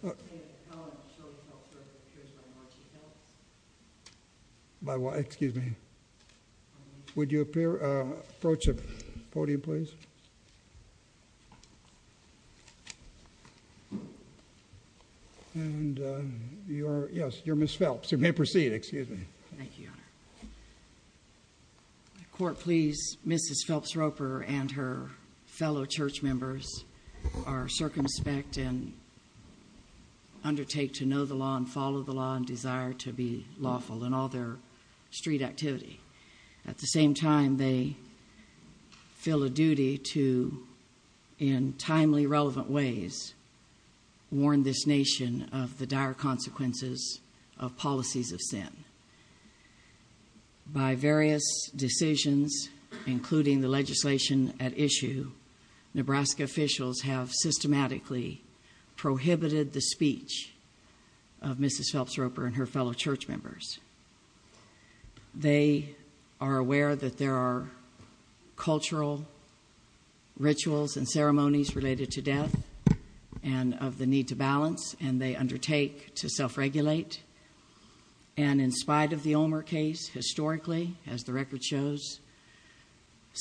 Court, please. Mrs. Phelps-Roper and her fellow church members are circumspect and undertake to know the law and follow the law and desire to be lawful in all their street activity. At the same time, they feel a duty to, in timely, relevant ways, warn this nation of the dire consequences of policies of sin. By various decisions, including the legislation at issue, Nebraska officials have systematically prohibited the speech of Mrs. Phelps-Roper and her fellow church members. They are aware that there are cultural rituals and ceremonies related to death and of the need to balance, and they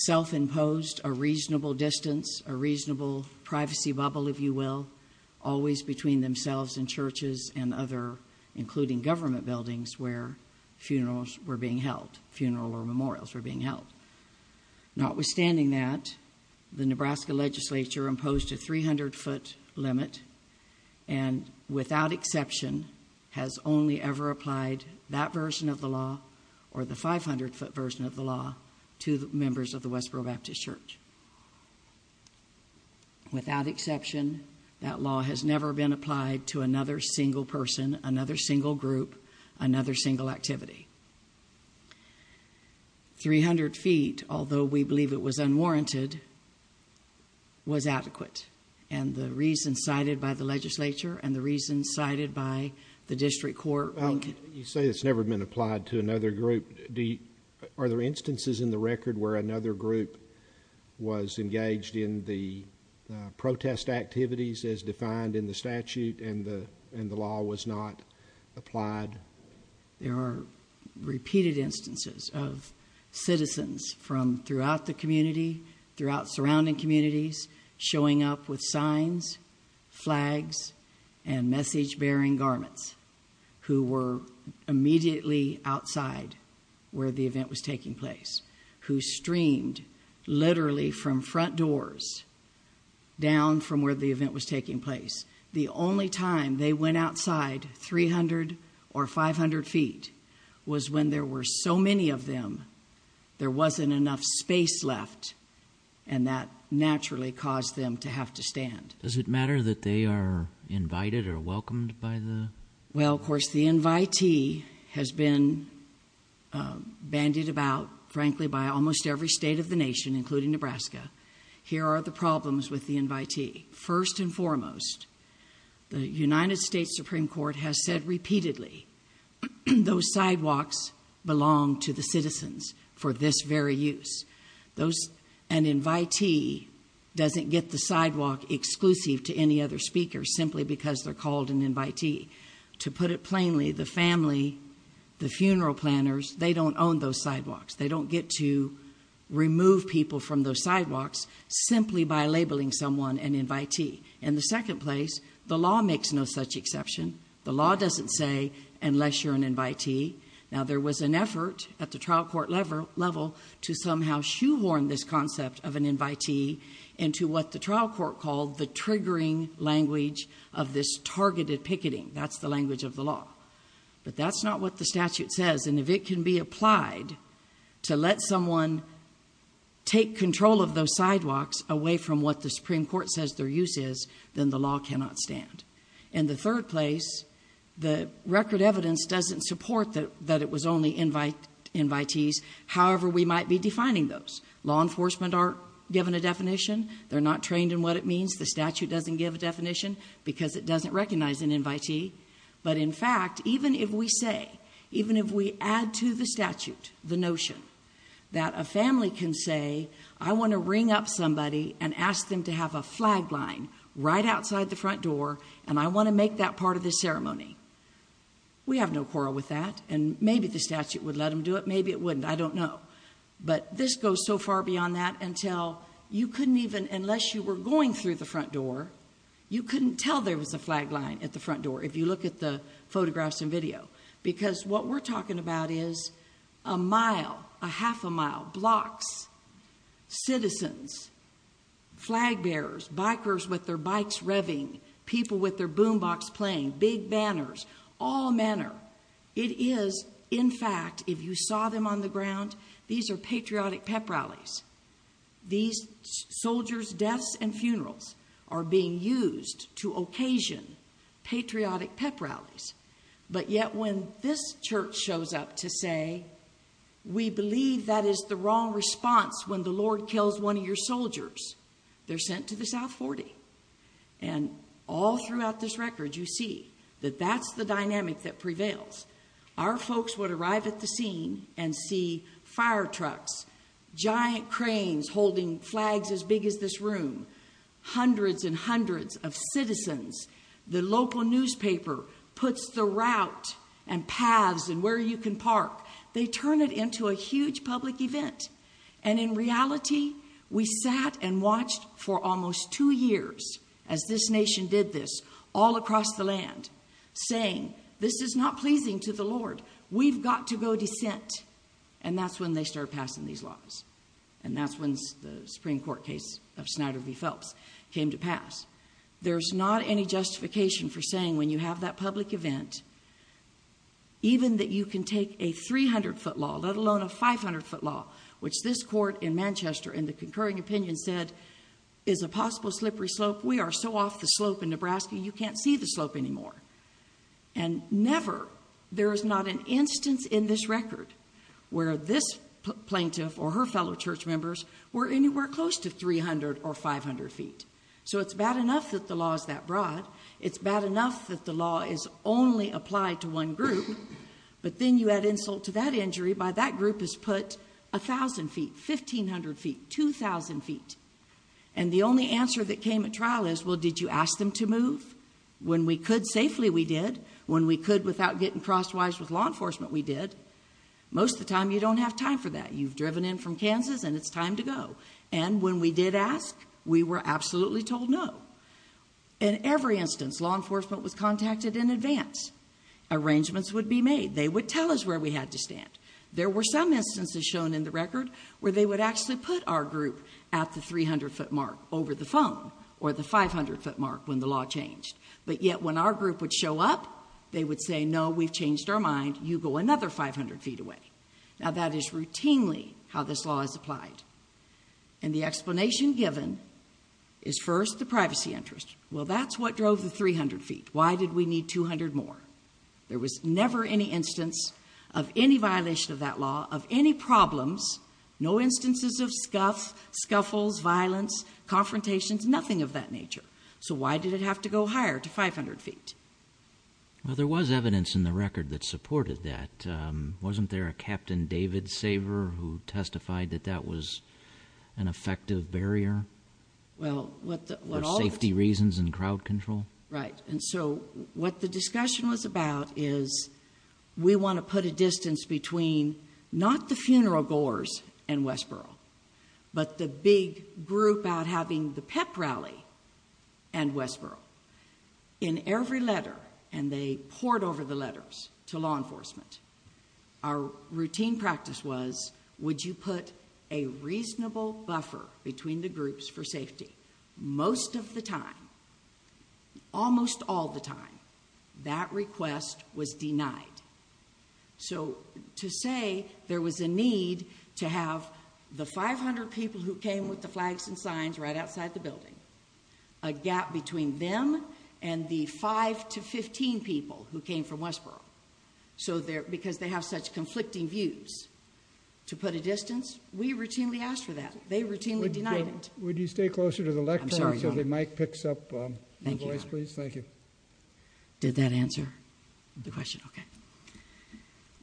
self-imposed a reasonable distance, a reasonable privacy bubble, if you will, always between themselves and churches and other, including government buildings, where funerals were being held, funeral or memorials were being held. Notwithstanding that, the Nebraska legislature imposed a 300-foot limit and, without exception, has only ever applied that version of the law or the 500-foot version of the law to members of the Westboro Baptist Church. Without exception, that law has never been applied to another single person, another single group, another single activity. 300 feet, although we believe it was unwarranted, was adequate, and the reasons cited by the legislature and the reasons cited by District Court Lincoln. You say it's never been applied to another group. Are there instances in the record where another group was engaged in the protest activities as defined in the statute and the law was not applied? There are repeated instances of citizens from throughout the community, throughout surrounding communities, showing up with signs, flags, and message-bearing garments, who were immediately outside where the event was taking place, who streamed literally from front doors down from where the event was taking place. The only time they went outside 300 or 500 feet was when there were so many of them, there wasn't enough space left, and that naturally caused them to have to stand. Does it matter that they are invited or welcomed by the? Well, of course, the invitee has been bandied about, frankly, by almost every state of the nation, including Nebraska. Here are the problems with the invitee. First and foremost, the United States Supreme Court has said repeatedly, those sidewalks belong to the other speakers simply because they're called an invitee. To put it plainly, the family, the funeral planners, they don't own those sidewalks. They don't get to remove people from those sidewalks simply by labeling someone an invitee. In the second place, the law makes no such exception. The law doesn't say, unless you're an invitee. Now, there was an effort at the trial court level to somehow shoehorn this concept of an invitee into what the trial court called the triggering language of this targeted picketing. That's the language of the law, but that's not what the statute says. If it can be applied to let someone take control of those sidewalks away from what the Supreme Court says their use is, then the law cannot stand. In the third place, the record evidence doesn't support that it was only invitees. However, we might be defining those. Law enforcement aren't given a definition. They're not trained in what it means. The statute doesn't give a definition because it doesn't recognize an invitee. In fact, even if we say, even if we add to the statute the notion that a family can say, I want to ring up somebody and ask them to have a flag line right outside the front door, and I want to make that part of the ceremony. We have no quarrel with that, and maybe the statute would let them do it. Maybe it wouldn't. I don't know. But this goes so far beyond that until you couldn't even, unless you were going through the front door, you couldn't tell there was a flag line at the front door if you look at the photographs and video. Because what we're talking about is a mile, a half a mile, blocks, citizens, flag bearers, bikers with their bikes revving, people with their boom box playing, big banners, all manner. It is, in fact, if you saw them on the ground, these are patriotic pep rallies. These soldiers' deaths and funerals are being used to occasion patriotic pep rallies. But yet when this church shows up to say, we believe that is the wrong response when the Lord kills one of your soldiers, they're sent to the South 40. And all throughout this record, you see that that's the dynamic that prevails. Our folks would arrive at the scene and see fire trucks, giant cranes holding flags as big as this room, hundreds and hundreds of citizens. The local newspaper puts the route and paths and where you can park. They turn it into a huge public event. And in reality, we sat and watched for almost two years as this nation did this, all across the land, saying this is not pleasing to the Lord. We've got to go dissent. And that's when they start passing these laws. And that's when the Supreme Court case of Snyder v. Phelps came to pass. There's not any justification for saying when you have that public event, even that you can take a 300-foot law, let alone a 500-foot law, which this court in Manchester, in the concurring opinion, said is a possible slippery slope. We are so off the slope in that you can't see the slope anymore. And never, there is not an instance in this record where this plaintiff or her fellow church members were anywhere close to 300 or 500 feet. So it's bad enough that the law is that broad. It's bad enough that the law is only applied to one group. But then you add insult to that injury by that group has put 1,000 feet, 1,500 feet, 2,000 feet. And the only answer that came at trial is, well, did you ask them to move? When we could safely, we did. When we could without getting crosswise with law enforcement, we did. Most of the time, you don't have time for that. You've driven in from Kansas, and it's time to go. And when we did ask, we were absolutely told no. In every instance, law enforcement was contacted in advance. Arrangements would be made. They would tell us where we had to stand. There were some instances shown in the record where they would actually put our group at the 300-foot mark over the phone or the 500-foot mark when the law changed. But yet, when our group would show up, they would say, no, we've changed our mind. You go another 500 feet away. Now, that is routinely how this law is applied. And the explanation given is first the privacy interest. Well, that's what drove the 300 feet. Why did we need 200 more? There was never any instance of any violation of that law, of any problems, no instances of scuff, scuffles, violence, confrontations, nothing of that nature. So why did it have to go higher to 500 feet? Well, there was evidence in the record that supported that. Wasn't there a Captain David Saver who testified that that was an effective barrier for safety reasons and crowd control? Right. And so what the discussion was about is we want to put a distance between not the funeral goers and Westboro, but the big group out having the pep rally and Westboro. In every letter, and they poured over the letters to law enforcement, our routine practice was, would you put a reasonable buffer between the groups for safety? Most of the time, almost all the time, that request was denied. So to say there was a need to have the 500 people who came with the flags and signs right outside the building, a gap between them and the 5 to 15 people who came from Westboro. So there, because they have such conflicting views to put a distance, we routinely asked for that. They routinely denied it. Would you stay closer to the left? So the mic picks up, please. Thank you. Did that answer the question? Okay.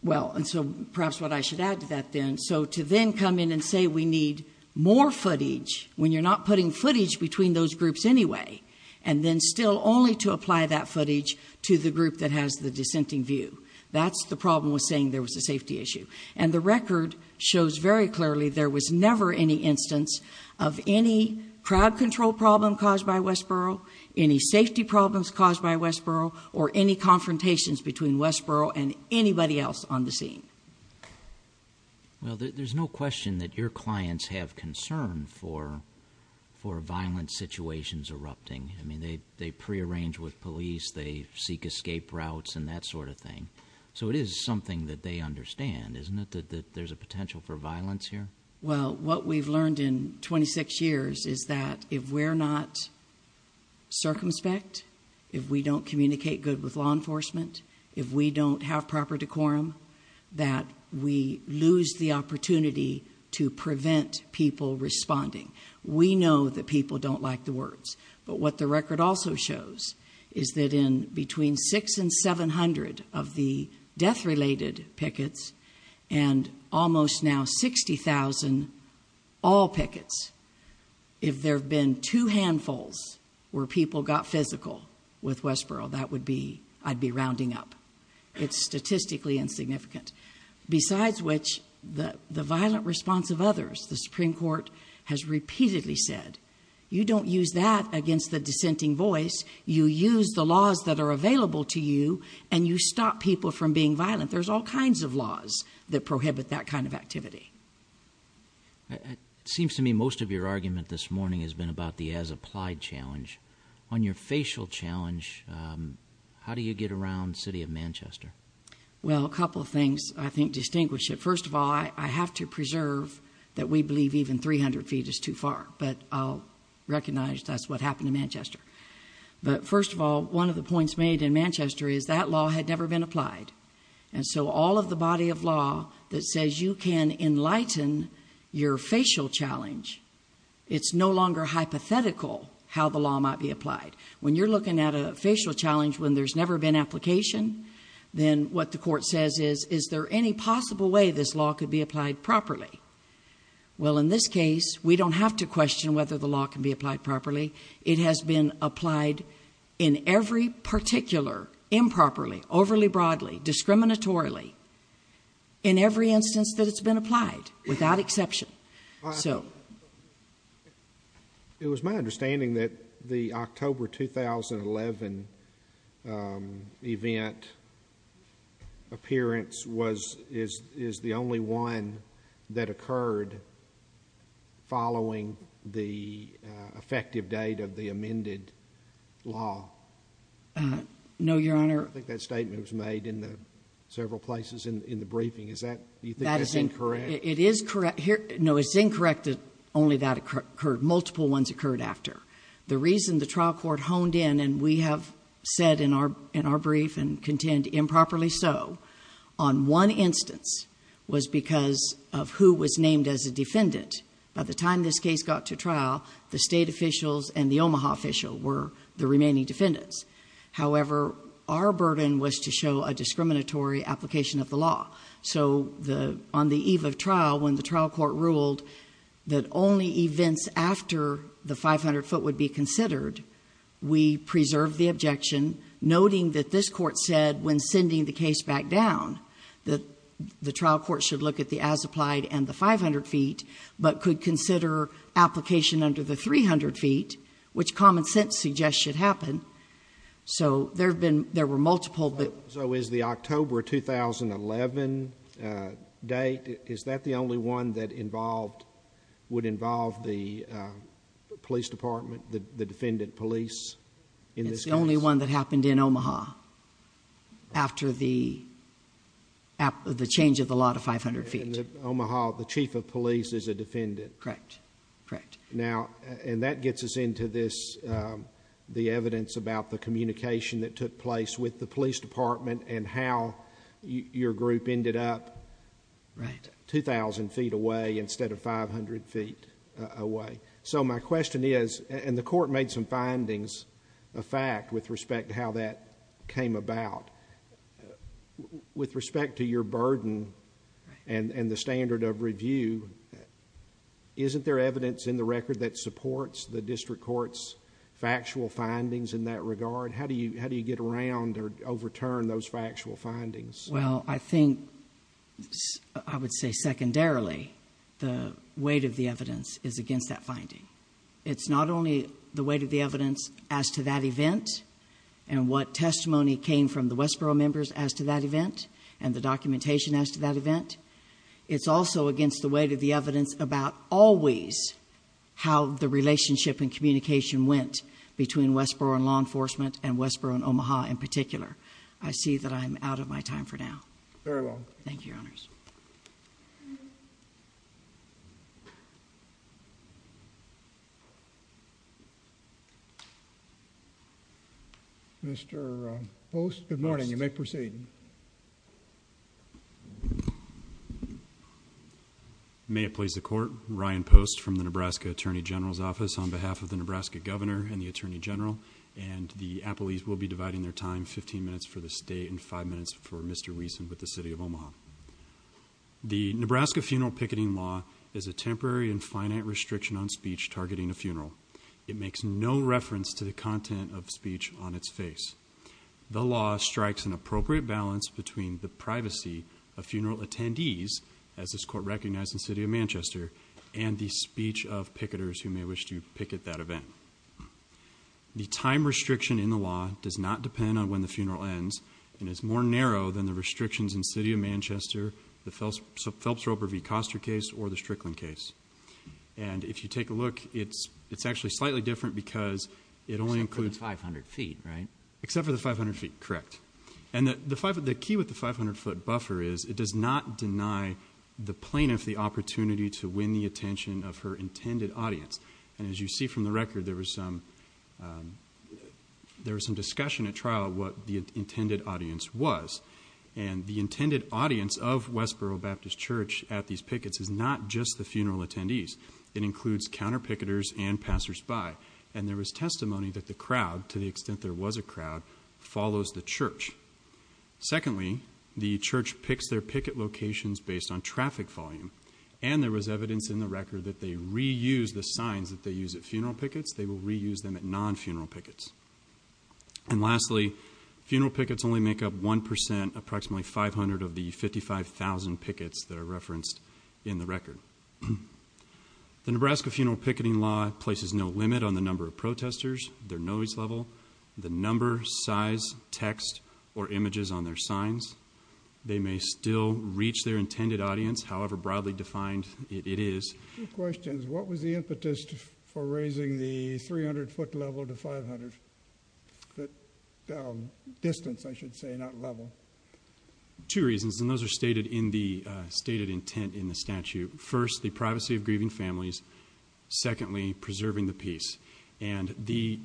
Well, and so perhaps what I should add to that then, so to then come in and say, we need more footage when you're not putting footage between those groups anyway, and then still only to apply that footage to the group that has the dissenting view. That's the problem with saying there was a safety issue. And the record shows very clearly, there was never any instance of any crowd control problem caused by Westboro, any safety problems caused by Westboro, or any confrontations between Westboro and anybody else on the scene. Well, there's no question that your clients have concern for violent situations erupting. I mean, they prearrange with police, they seek escape routes and that sort of thing. So it is something that they understand, isn't it, that there's a potential for violence here? Well, what we've learned in 26 years is that if we're not circumspect, if we don't communicate good with law enforcement, if we don't have proper decorum, that we lose the opportunity to prevent people responding. We know that people don't like the words. But what the record also shows is that in between six and 700 of the death-related pickets and almost now 60,000 all pickets, if there have been two handfuls where people got physical with Westboro, that would be, I'd be rounding up. It's statistically insignificant. Besides which, the violent response of others, the Supreme Court has repeatedly said, you don't use that against the dissenting voice, you use the laws that are available to you, and you stop people from being violent. There's all kinds of laws that prohibit that kind of activity. It seems to me most of your argument this morning has been about the as-applied challenge. On your facial challenge, how do you get around the city of Manchester? Well, a couple of things I think distinguish it. First of all, I have to preserve that we believe even 300 feet is too far, but I'll recognize that's what happened in Manchester. But first of all, one of the points made in Manchester is that law had never been applied. And so all of the body of law that says you can enlighten your facial challenge, it's no longer hypothetical how the law might be applied. When you're looking at a facial challenge when there's never been application, then what the court says is, is there any possible way this law could be applied properly? Well, in this case, we don't have to question whether the applied in every particular, improperly, overly broadly, discriminatorily, in every instance that it's been applied without exception. It was my understanding that the October 2011 event appearance is the only one that occurred following the effective date of the amended law. No, Your Honor. I think that statement was made in the several places in the briefing. Is that, do you think that's incorrect? It is correct. No, it's incorrect that only that occurred. Multiple ones occurred after. The reason the trial court honed in, and we have said in our brief and contend improperly so, on one instance was because of who was named as a defendant. By the time this case got to trial, the state officials and the Omaha official were the remaining defendants. However, our burden was to show a discriminatory application of the law. So, on the eve of trial, when the trial court ruled that only events after the 500 foot would be considered, we preserved the objection, noting that this court said, when sending the case back down, that the trial court should look at the as applied and the 500 feet, but could consider application under the 300 feet, which common sense suggests should happen. So, there have been, there were multiple. So, is the October 2011 date, is that the only one that involved, would involve the police department, the defendant police in this case? The only one that happened in Omaha after the change of the law to 500 feet. In Omaha, the chief of police is a defendant. Correct. Correct. Now, and that gets us into this, the evidence about the communication that took place with the police department and how your group ended up 2,000 feet away instead of 500 feet away. So, my question is, and the court made some findings of fact with respect to how that came about, with respect to your burden and the standard of review, isn't there evidence in the record that supports the district court's factual findings in that regard? How do you get around or overturn those factual findings? Well, I think I would say secondarily, the weight of the evidence is against that finding. It's not only the weight of the evidence as to that event and what testimony came from the Westboro members as to that event and the documentation as to that event. It's also against the weight of the evidence about always how the relationship and communication went between Westboro and law enforcement and Westboro and Omaha in particular. I see that I'm out of my time for now. Very well. Thank you, Your Honors. Mr. Post? Good morning. You may proceed. May it please the court, Ryan Post from the Nebraska Attorney General's Office on behalf of the Nebraska Governor and the Attorney General, and the appellees will be dividing their time, 15 minutes for the state and five minutes for Mr. Wiesen with the City of Omaha. The Nebraska funeral picketing law is a temporary and finite restriction on speech targeting a funeral. It makes no reference to the content of speech on its face. The law strikes an appropriate balance between the privacy of funeral attendees, as this court recognized in the City of Manchester, and the speech of picketers who may wish to picket that event. The time restriction in the law does not depend on when the funeral ends, and is more narrow than the restrictions in the City of Manchester, the Phelps-Roper v. Koster case, or the Strickland case. And if you take a look, it's actually slightly different because it only includes... Except for the 500 feet, right? Except for the 500 feet, correct. And the key with the 500 foot buffer is, it does not deny the plaintiff the opportunity to win the attention of her intended audience. And as you see from the record, there was some discussion at trial what the intended audience was. And the intended audience of Westboro Baptist Church at these pickets is not just the funeral attendees. It includes counter-picketers and passers-by. And there was testimony that the crowd, to the extent there was a crowd, follows the church. Secondly, the church picks their picket locations based on traffic volume. And there was evidence in the record that they reuse the signs that they use at funeral pickets. They will reuse them at non-funeral pickets. And lastly, funeral pickets only make up 1%, approximately 500 of the 55,000 pickets that are referenced in the record. The Nebraska funeral picketing law places no limit on the number of protesters, their noise level, the number, size, text, or images on their signs. They may still reach their intended audience, however broadly defined it is. I have two questions. What was the impetus for raising the 300-foot level to 500-foot distance, I should say, not level? Two reasons. And those are stated in the stated intent in the statute. First, the privacy of grieving families. Secondly, preserving the peace. And the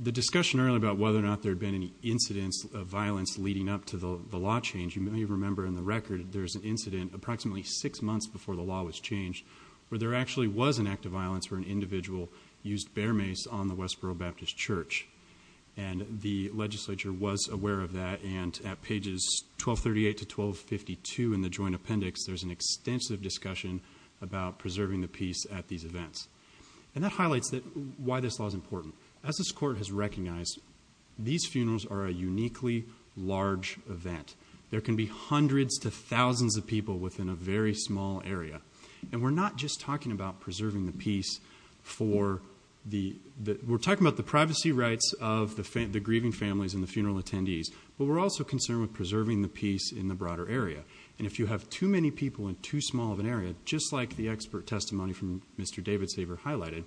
discussion earlier about whether or not there had been any incidents of violence leading up to the law change, you may remember in the record, there's an incident approximately six months before the law was changed, where there actually was an act of violence where an individual used bear mace on the Westboro Baptist Church. And the legislature was aware of that. And at pages 1238 to 1252 in the joint appendix, there's an extensive discussion about preserving the peace at these events. And that highlights why this law is important. As this court has recognized, these funerals are a uniquely large event. There can be hundreds to thousands of people within a very small area. And we're not just talking about preserving the peace for the, we're talking about the privacy rights of the grieving families and the funeral attendees. But we're also concerned with preserving the peace in the broader area. And if you have too many people in too small of an area, just like the expert testimony from Mr. David Saver highlighted,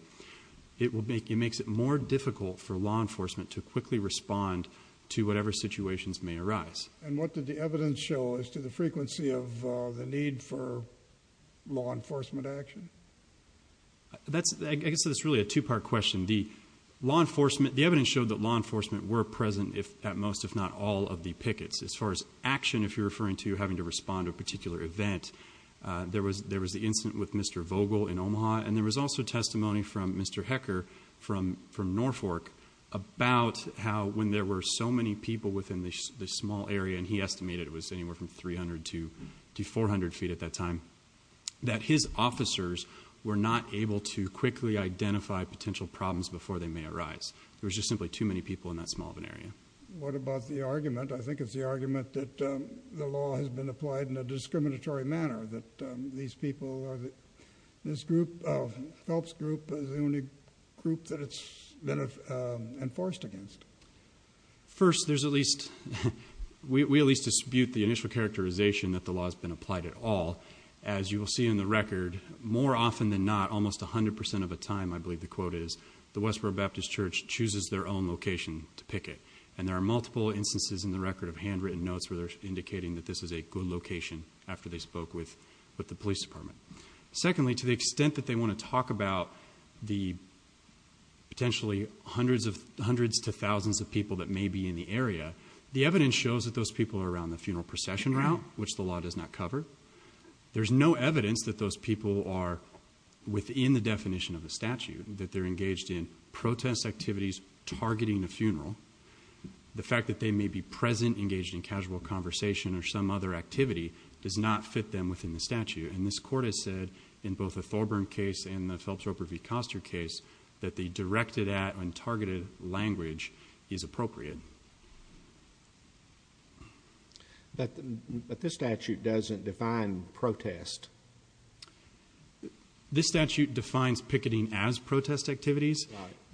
it will make, it makes it more difficult for law enforcement to quickly respond to whatever situations may arise. And what did the evidence show as to the frequency of the need for law enforcement action? That's, I guess it's really a two-part question. The law enforcement, the evidence showed that law enforcement were present if, at most, if not all of the pickets. As far as action, if you're referring to having to respond to a particular event, there was, there was the incident with Mr. Vogel in Omaha. And there was also testimony from Mr. Hecker from Norfolk about how, when there were so many people within this small area, and he estimated it was anywhere from 300 to 400 feet at that time, that his officers were not able to quickly identify potential problems before they may arise. There was just simply too many people in that small of an area. What about the argument? I think it's the argument that the law has been applied in a discriminatory manner, that these people are, this group, Phelps group is the only group that it's been enforced against. First, there's at least, we at least dispute the initial characterization that the law has been applied at all. As you will see in the record, more often than not, almost 100% of the time, I believe the quote is, the Westboro Baptist Church chooses their own location to picket. And there are multiple instances in the record of handwritten notes where they're indicating that this is a good location after they spoke with the police department. Secondly, to the extent that they want to talk about the potentially hundreds to thousands of people that may be in the area, the evidence shows that those people are around the funeral procession route, which the law does not cover. There's no evidence that those people are within the definition of the statute, that they're engaged in protest activities targeting a funeral. The fact that they may be present, engaged in casual conversation or some other activity does not fit them within the statute. And this court has said in both the Thorburn case and the Phelps Roper v. Koster case, that the directed at and targeted language is appropriate. But this statute doesn't define protest. This statute defines picketing as protest activities.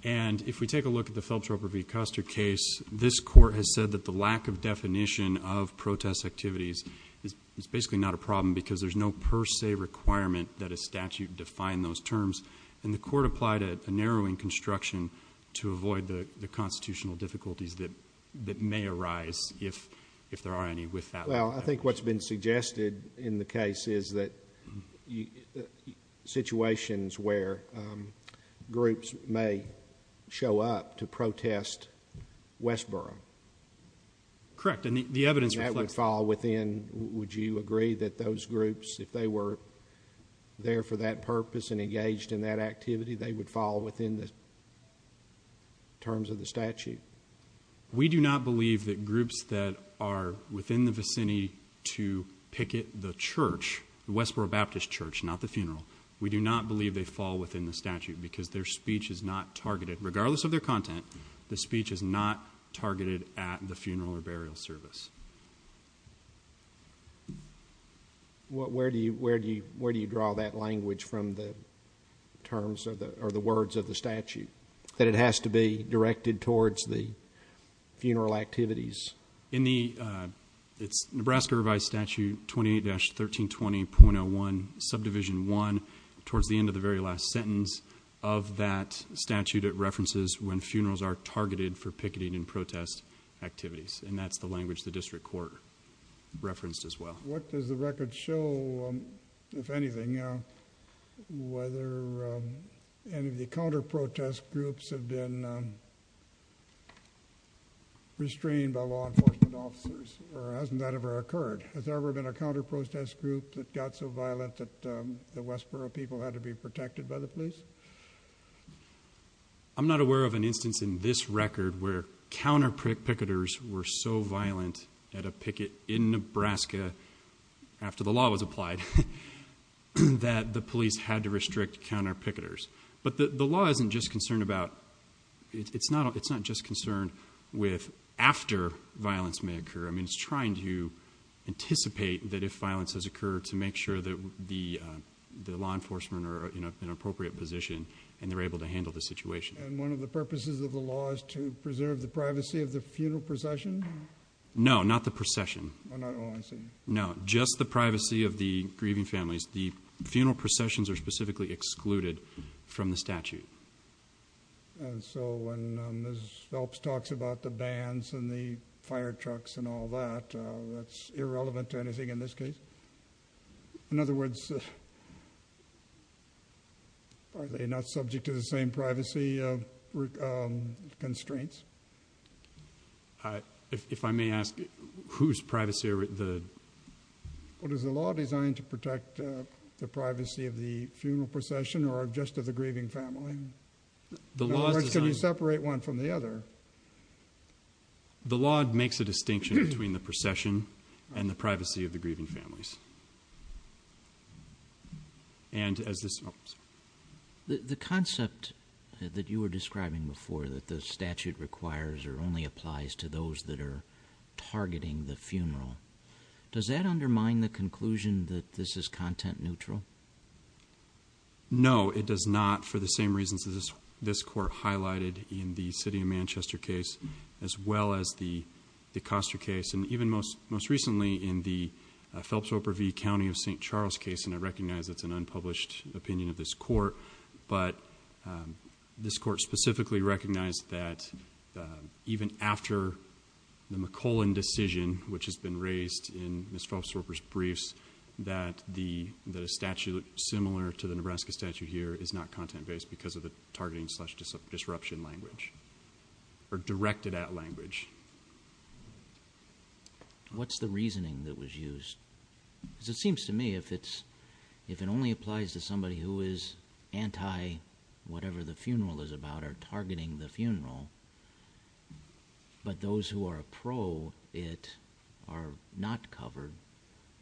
And if we take a look at the Phelps Roper v. Koster case, this court has said that the lack of definition of protest activities is basically not a problem because there's no per se requirement that a statute define those terms. And the court applied a narrowing construction to avoid the constitutional difficulties that may arise if there are any with that. Well, I think what's been suggested in the case is that the situations where groups may show up to protest Westboro. Correct. And the evidence that would fall within, would you agree that those groups, if they were there for that purpose and engaged in that activity, they would fall within the terms of the statute? We do not believe that groups that are within the vicinity to picket the church, the Westboro Baptist Church, not the funeral. We do not believe they fall within the statute because their speech is not targeted. Regardless of their content, the speech is not targeted at the funeral or burial service. What, where do you, where do you, where do you draw that language from the terms of the, or the words of the statute that it has to be directed towards the funeral activities? In the, it's Nebraska Revised Statute 28-1320.01 Subdivision 1 towards the end of the very last sentence of that statute. It references when funerals are targeted for picketing and protest activities, and that's the language the district court referenced as well. What does the record show, if anything, whether any of the counter protest groups have been restrained by law enforcement officers, or hasn't that ever occurred? Has there ever been a counter protest group that got so violent that the Westboro people had to be protected by the police? I'm not aware of an instance in this record where counter picketers were so violent at a picket in Nebraska after the law was applied that the police had to restrict counter picketers. But the law isn't just concerned about, it's not, just concerned with after violence may occur. I mean, it's trying to anticipate that if violence has occurred to make sure that the law enforcement are in an appropriate position and they're able to handle the situation. And one of the purposes of the law is to preserve the privacy of the funeral procession? No, not the procession. Oh, I see. No, just the privacy of the grieving families. The funeral processions are specifically excluded from the statute. And so when Ms. Phelps talks about the bands and the fire trucks and all that, that's irrelevant to anything in this case? In other words, are they not subject to the same privacy constraints? If I may ask, whose privacy are the... Well, is the law designed to protect the privacy of the funeral procession or just of the grieving family? In other words, can you separate one from the other? The law makes a distinction between the procession and the privacy of the grieving families. And as this... The concept that you were describing before, that the statute requires or only applies to those that are targeting the funeral, does that undermine the conclusion that this is content neutral? No, it does not for the same reasons that this court highlighted in the City of Manchester case, as well as the Coster case. And even most recently in the Phelps-Roper v. County of St. Charles case, and I recognize it's an unpublished opinion of this court, but this court specifically recognized that even after the McCollin decision, which has been raised in Ms. Phelps-Roper's briefs, that a statute similar to the Nebraska statute here is not content-based because of the targeting-slash-disruption language, or directed-at language. What's the reasoning that was used? Because it seems to me if it's... If it only applies to somebody who is anti-whatever the funeral is about, or targeting the funeral, but those who are pro it are not covered,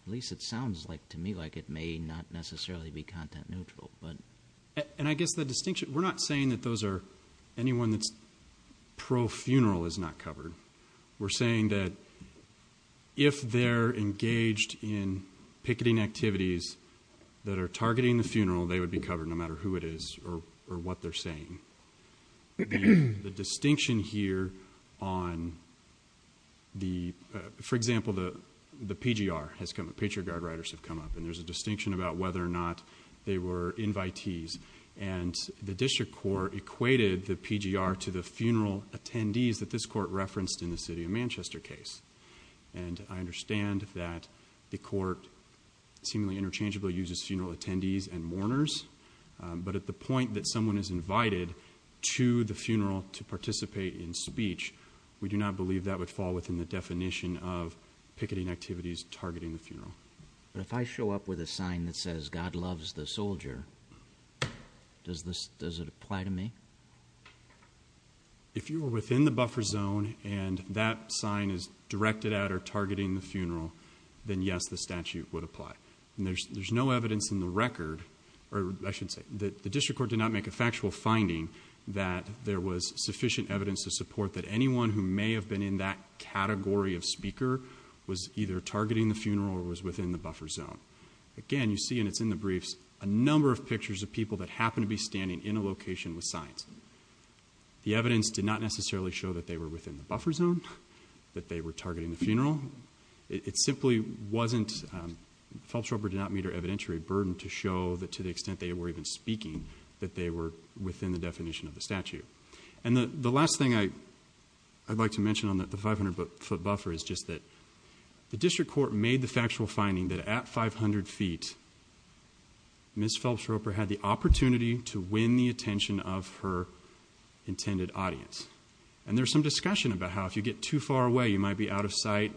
at least it sounds to me like it may not necessarily be content-neutral. And I guess the distinction... We're not saying that anyone that's pro-funeral is not covered. We're saying that if they're engaged in picketing activities that are targeting the funeral, they would be covered no matter who it is or what they're saying. The distinction here on the... Patriot Guard riders have come up, and there's a distinction about whether or not they were invitees. And the district court equated the PGR to the funeral attendees that this court referenced in the City of Manchester case. And I understand that the court seemingly interchangeably uses funeral attendees and mourners, but at the point that someone is invited to the funeral to participate in speech, we do not believe that would fall within the definition of targeting the funeral. But if I show up with a sign that says, God loves the soldier, does it apply to me? If you were within the buffer zone and that sign is directed at or targeting the funeral, then yes, the statute would apply. And there's no evidence in the record, or I should say, that the district court did not make a factual finding that there was sufficient evidence to support that anyone who may have been in that category of speaker was either targeting the funeral or was within the buffer zone. Again, you see, and it's in the briefs, a number of pictures of people that happen to be standing in a location with signs. The evidence did not necessarily show that they were within the buffer zone, that they were targeting the funeral. It simply wasn't... Feltrope did not meet her evidentiary burden to show that to the extent they were even speaking, that they were within the definition of the statute. And the last thing I'd like to mention on the 500-foot buffer is just that the district court made the factual finding that at 500 feet, Ms. Feltrope had the opportunity to win the attention of her intended audience. And there's some discussion about how if you get too far away, you might be out of sight,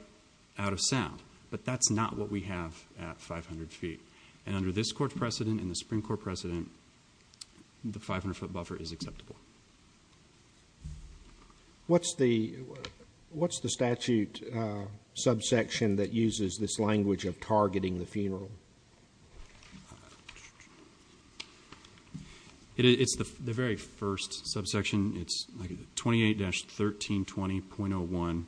out of sound, but that's not what we have at 500 feet. And under this court's precedent and the Supreme Court precedent, the 500-foot buffer is acceptable. What's the statute subsection that uses this language of targeting the funeral? It's the very first subsection. It's like 28-1320.01,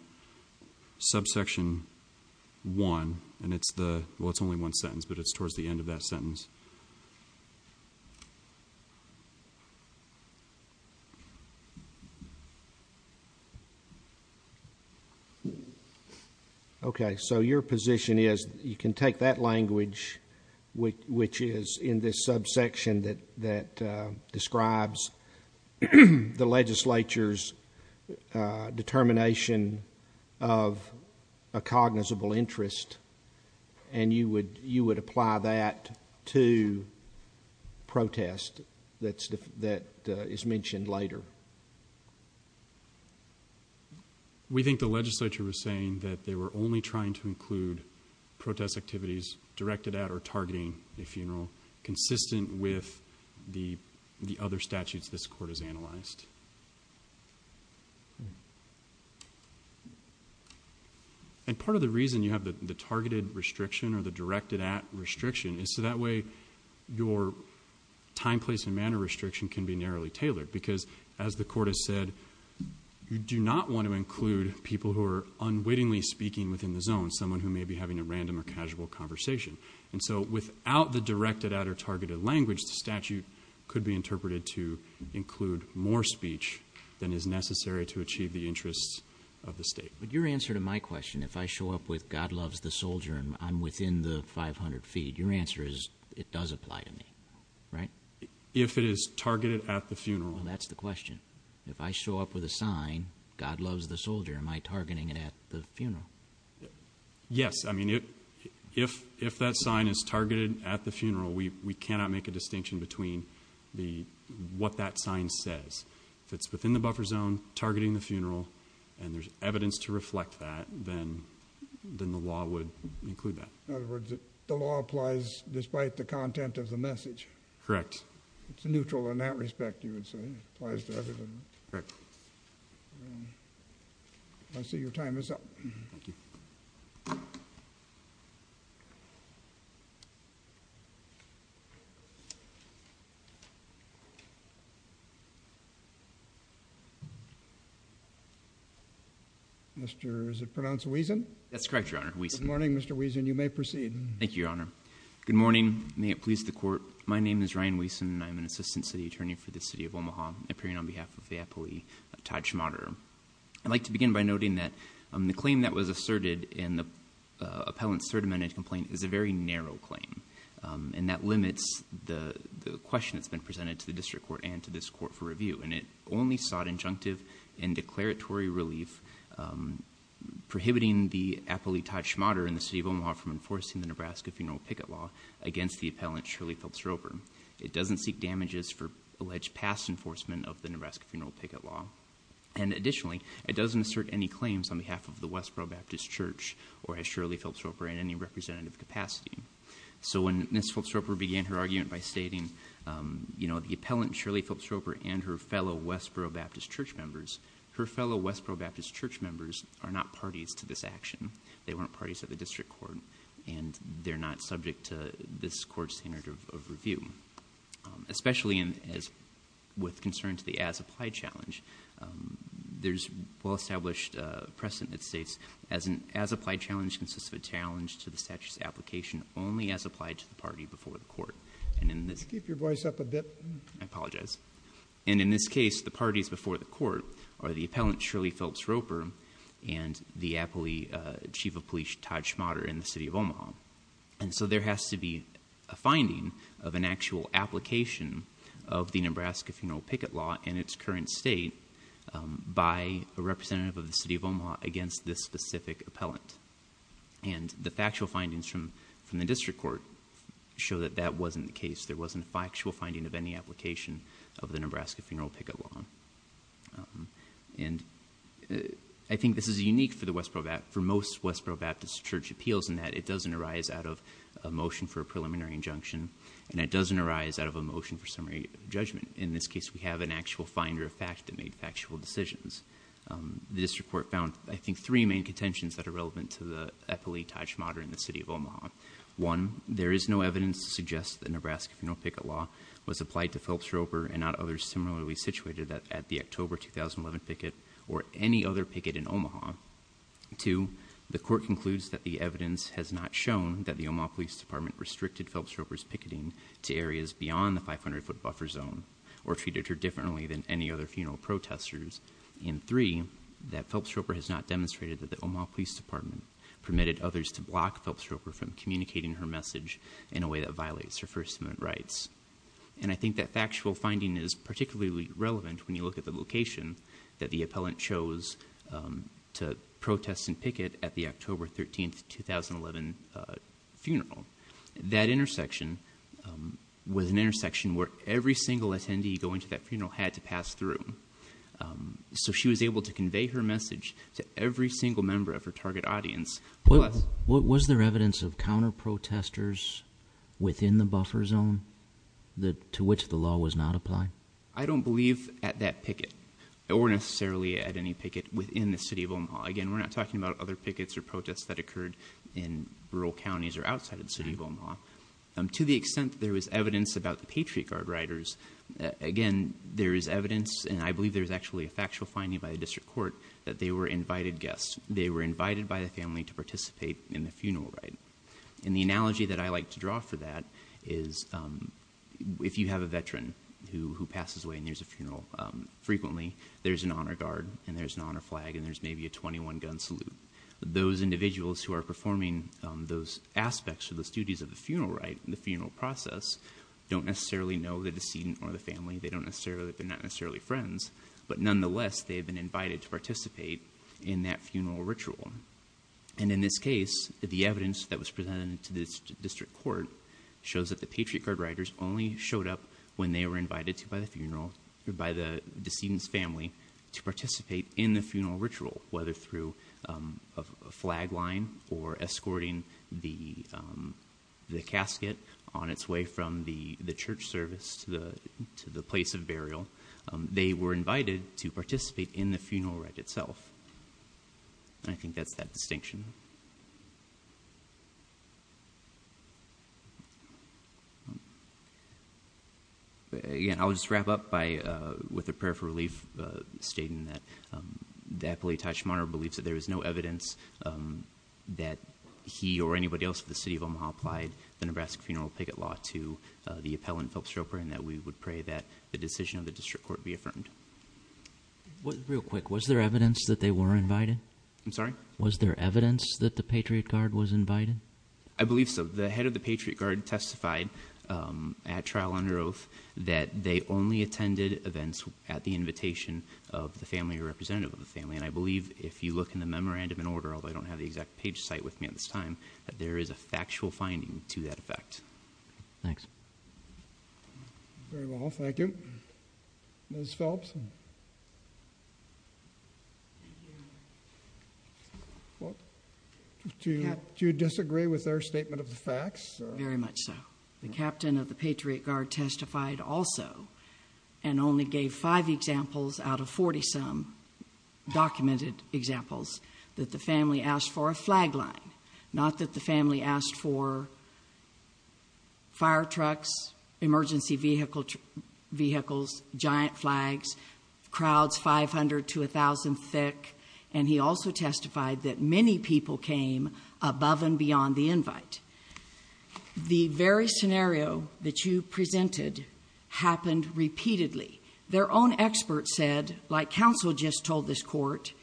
subsection one. And it's the... Well, it's only one sentence, but it's towards the end of that sentence. Okay. So your position is you can take that language, which is in this subsection that describes the legislature's determination of a cognizable interest, and you would apply that to the statute to protest that is mentioned later. We think the legislature was saying that they were only trying to include protest activities directed at or targeting a funeral consistent with the other statutes this court has analyzed. And part of the reason you have the targeted restriction or the directed at restriction is so that way your time, place, and manner restriction can be narrowly tailored. Because as the court has said, you do not want to include people who are unwittingly speaking within the zone, someone who may be having a random or casual conversation. And so without the directed at or targeted language, the statute could be interpreted to include more speech than is necessary to achieve the interests of the state. But your answer to my question, if I show up with God loves the soldier and I'm within the 500 feet, your answer is it does apply to me, right? If it is targeted at the funeral. Well, that's the question. If I show up with a sign, God loves the soldier, am I targeting it at the funeral? Yes, I mean, if that sign is targeted at the funeral, we cannot make a distinction between what that sign says. If it's within the buffer zone targeting the funeral and there's evidence to reflect that, then the law would include that. In other words, the law applies despite the content of the message. Correct. It's neutral in that respect, you would say, it applies to everything. Correct. I see your time is up. That's correct, Your Honor, Wiesen. Good morning, Mr. Wiesen. You may proceed. Thank you, Your Honor. Good morning. May it please the court. My name is Ryan Wiesen. I'm an assistant city attorney for the city of Omaha, appearing on behalf of the appellee, Todd Schmaderer. I'd like to begin by noting that the claim that was asserted in the appellant's third amendment complaint is a very narrow claim. And that limits the question that's been presented to the district court and to this court for review. And it only sought injunctive and declaratory relief, prohibiting the appellee, Todd Schmaderer, in the city of Omaha from enforcing the Nebraska Funeral Picket Law against the appellant, Shirley Phillips-Roper. It doesn't seek damages for alleged past enforcement of the Nebraska Funeral Picket Law. And additionally, it doesn't assert any claims on behalf of the Westboro Baptist Church or as Shirley Phillips-Roper in any representative capacity. So when Ms. Phillips-Roper began her argument by stating, you know, the appellant, Shirley Phillips-Roper, and her fellow Westboro Baptist Church members, her fellow Westboro Baptist Church members are not parties to this action. They weren't parties at the district court. And they're not subject to this court's standard of review. Especially with concern to the as-applied challenge, there's well-established precedent that states, as-applied challenge consists of a challenge to the statute's application only as applied And in this case, the parties before the court are the appellant, Shirley Phillips-Roper, and the chief of police, Todd Schmader, in the city of Omaha. And so there has to be a finding of an actual application of the Nebraska Funeral Picket Law in its current state by a representative of the city of Omaha against this specific appellant. And the factual findings from the district court show that that wasn't the case. There wasn't a factual finding of any application of the Nebraska Funeral Picket Law. And I think this is unique for most Westboro Baptist Church appeals in that it doesn't arise out of a motion for a preliminary injunction. And it doesn't arise out of a motion for summary judgment. In this case, we have an actual finder of fact that made factual decisions. The district court found, I think, three main contentions that are relevant to the appellee, Todd Schmader, in the city of Omaha. One, there is no evidence to suggest that Nebraska Funeral Picket Law was applied to Phillips-Roper and not others similarly situated at the October 2011 picket or any other picket in Omaha. Two, the court concludes that the evidence has not shown that the Omaha Police Department restricted Phillips-Roper's picketing to areas beyond the 500-foot buffer zone or treated her differently than any other funeral protesters. And three, that Phillips-Roper has not demonstrated that the Omaha Police Department permitted others to block Phillips-Roper from communicating her message in a way that violates her First Amendment rights. And I think that factual finding is particularly relevant when you look at the location that the appellant chose to protest and picket at the October 13, 2011 funeral. That intersection was an intersection where every single attendee going to that funeral had to pass through. So she was able to convey her message to every single member of her target audience. What was there evidence of counter protesters within the buffer zone to which the law was not applied? I don't believe at that picket or necessarily at any picket within the city of Omaha. Again, we're not talking about other pickets or protests that occurred in rural counties or outside of the city of Omaha. To the extent there was evidence about the Patriot Guard riders, again, there is evidence and I believe there's actually a factual finding by the district court that they were invited guests. They were invited by the family to participate in the funeral ride. And the analogy that I like to draw for that is if you have a veteran who passes away and there's a funeral frequently, there's an honor guard and there's an honor flag and there's maybe a 21 gun salute. Those individuals who are performing those aspects of those duties of the funeral process don't necessarily know the decedent or the family. They don't necessarily, they're not necessarily friends. But nonetheless, they have been invited to participate in that funeral ritual. And in this case, the evidence that was presented to this district court shows that the Patriot Guard riders only showed up when they were invited to by the funeral or by the decedent's family to participate in the funeral ritual, whether through a flag line or escorting the casket on its way from the church service to the place of burial. They were invited to participate in the funeral ride itself. And I think that's that distinction. Again, I'll just wrap up by, with a prayer for relief, stating that the appellee, Tai Shimano, believes that there is no evidence that he or anybody else of the city of Omaha applied the Nebraska Funeral Picket Law to the appellant, Philip Stroper, and that we would pray that the decision of the district court be affirmed. Real quick, was there evidence that they were invited? I'm sorry? Was there evidence that the Patriot Guard was invited? I believe so. The head of the Patriot Guard testified at trial under oath that they only attended events at the invitation of the family or representative of the family. And I believe if you look in the memorandum and order, although I don't have the exact page site with me at this time, that there is a factual finding to that effect. Thanks. Very well, thank you. Ms. Phelps? Well, do you disagree with their statement of the facts? Very much so. The captain of the Patriot Guard testified also and only gave five examples out of 40-some documented examples that the family asked for a flag line, not that the family asked for fire trucks, emergency vehicles, giant flags, crowds 500 to 1,000 thick. And he also testified that many people came above and beyond the invite. The very scenario that you presented happened repeatedly. Their own experts said, like counsel just told this court,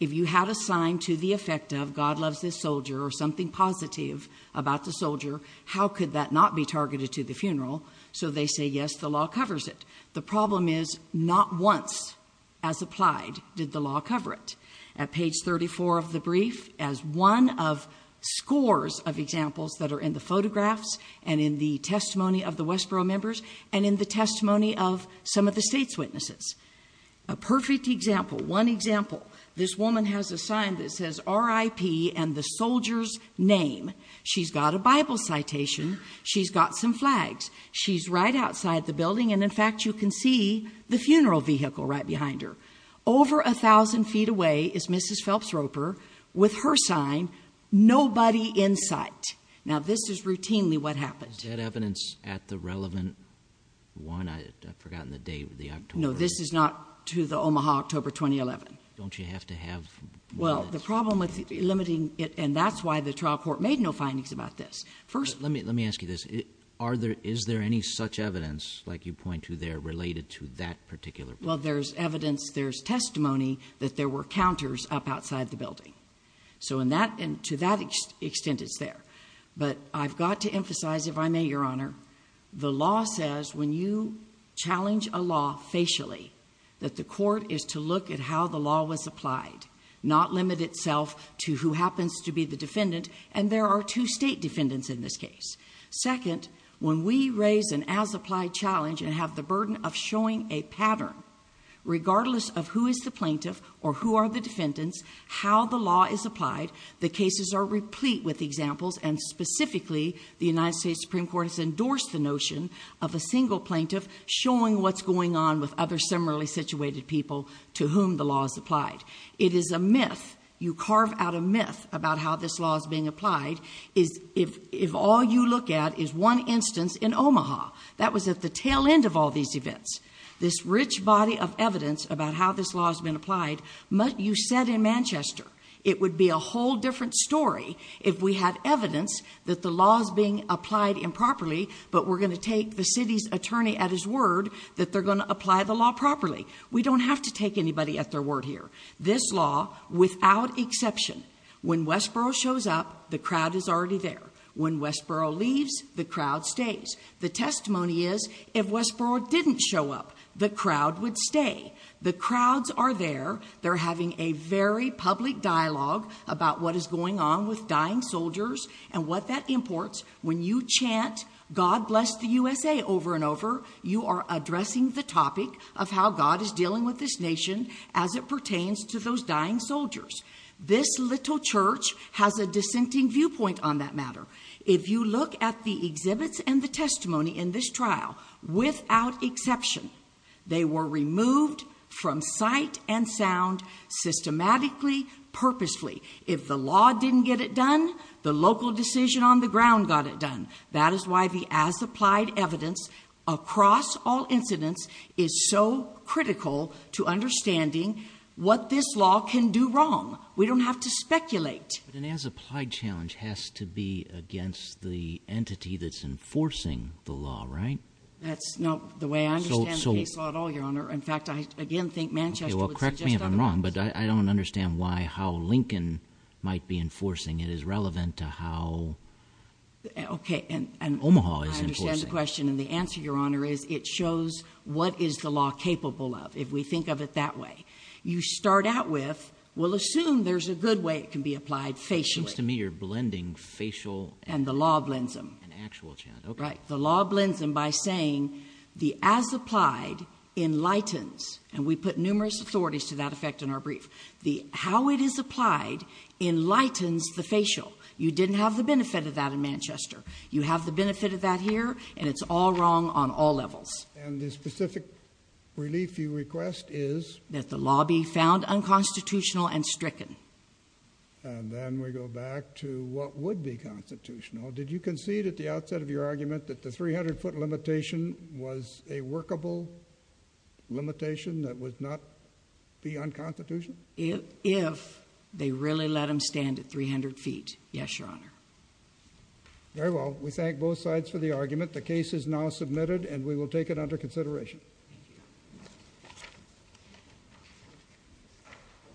if you had a sign to the effect of God loves this soldier or something positive about the soldier, how could that not be targeted to the funeral? So they say, yes, the law covers it. The problem is not once as applied did the law cover it. At page 34 of the brief, as one of scores of examples that are in the photographs and in the testimony of the Westboro members and in the testimony of some of the state's witnesses. A perfect example, one example, this woman has a sign that says RIP and the soldier's name. She's got a Bible citation. She's got some flags. She's right outside the building. And in fact, you can see the funeral vehicle right behind her. Over a thousand feet away is Mrs. Phelps Roper with her sign, nobody in sight. Now this is routinely what happened. Is that evidence at the relevant one? I forgotten the date of the October. No, this is not to the Omaha, October, 2011. Don't you have to have? Well, the problem with limiting it and that's why the trial court made no findings about this. First, let me ask you this. Is there any such evidence like you point to there related to that particular? Well, there's evidence, there's testimony that there were counters up outside the building. So to that extent, it's there. But I've got to emphasize, if I may, Your Honor, the law says when you challenge a law facially that the court is to look at how the law was applied, not limit itself to who happens to be the defendant. And there are two state defendants in this case. Second, when we raise an as applied challenge and have the burden of showing a pattern, regardless of who is the plaintiff or who are the defendants, how the law is applied, the cases are replete with examples. And specifically, the United States Supreme Court has endorsed the notion of a single plaintiff showing what's going on with other similarly situated people to whom the law is applied. It is a myth. You carve out a myth about how this law is being applied is if all you look at is one instance in Omaha. That was at the tail end of all these events. This rich body of evidence about how this law has been applied. You said in Manchester, it would be a whole different story if we had evidence that the law is being applied improperly, but we're going to take the city's attorney at his word that they're going to apply the law properly. We don't have to take anybody at their word here. This law, without exception, when Westboro shows up, the crowd is already there. When Westboro leaves, the crowd stays. The testimony is if Westboro didn't show up, the crowd would stay. The crowds are there. They're having a very public dialogue about what is going on with dying soldiers and what that imports. When you chant, God bless the USA over and over, you are addressing the topic of how God is dealing with this nation as it pertains to those dying soldiers. This little church has a dissenting viewpoint on that matter. If you look at the exhibits and the testimony in this trial, without exception, they were removed from sight and sound systematically, purposefully. If the law didn't get it done, the local decision on the ground got it done. That is why the as-applied evidence across all incidents is so critical to understanding what this law can do wrong. We don't have to speculate. But an as-applied challenge has to be against the entity that's enforcing the law, right? That's not the way I understand the case law at all, Your Honor. In fact, I again think Manchester would suggest otherwise. Okay, well, correct me if I'm wrong, but I don't understand why, how Lincoln might be enforcing. I understand the question, and the answer, Your Honor, it shows what is the law capable of, if we think of it that way. You start out with, we'll assume there's a good way it can be applied facially. It seems to me you're blending facial and actual challenge. Right. The law blends them by saying the as-applied enlightens, and we put numerous authorities to that effect in our brief, the how it is applied enlightens the facial. You didn't have the benefit of that in Manchester. You have the benefit of that here, and it's all wrong on all levels. And the specific relief you request is? That the law be found unconstitutional and stricken. And then we go back to what would be constitutional. Did you concede at the outset of your argument that the 300-foot limitation was a workable limitation that would not be unconstitutional? If they really let them stand at 300 feet. Yes, Your Honor. Very well. We thank both sides for the argument. The case is now submitted, and we will take it under consideration.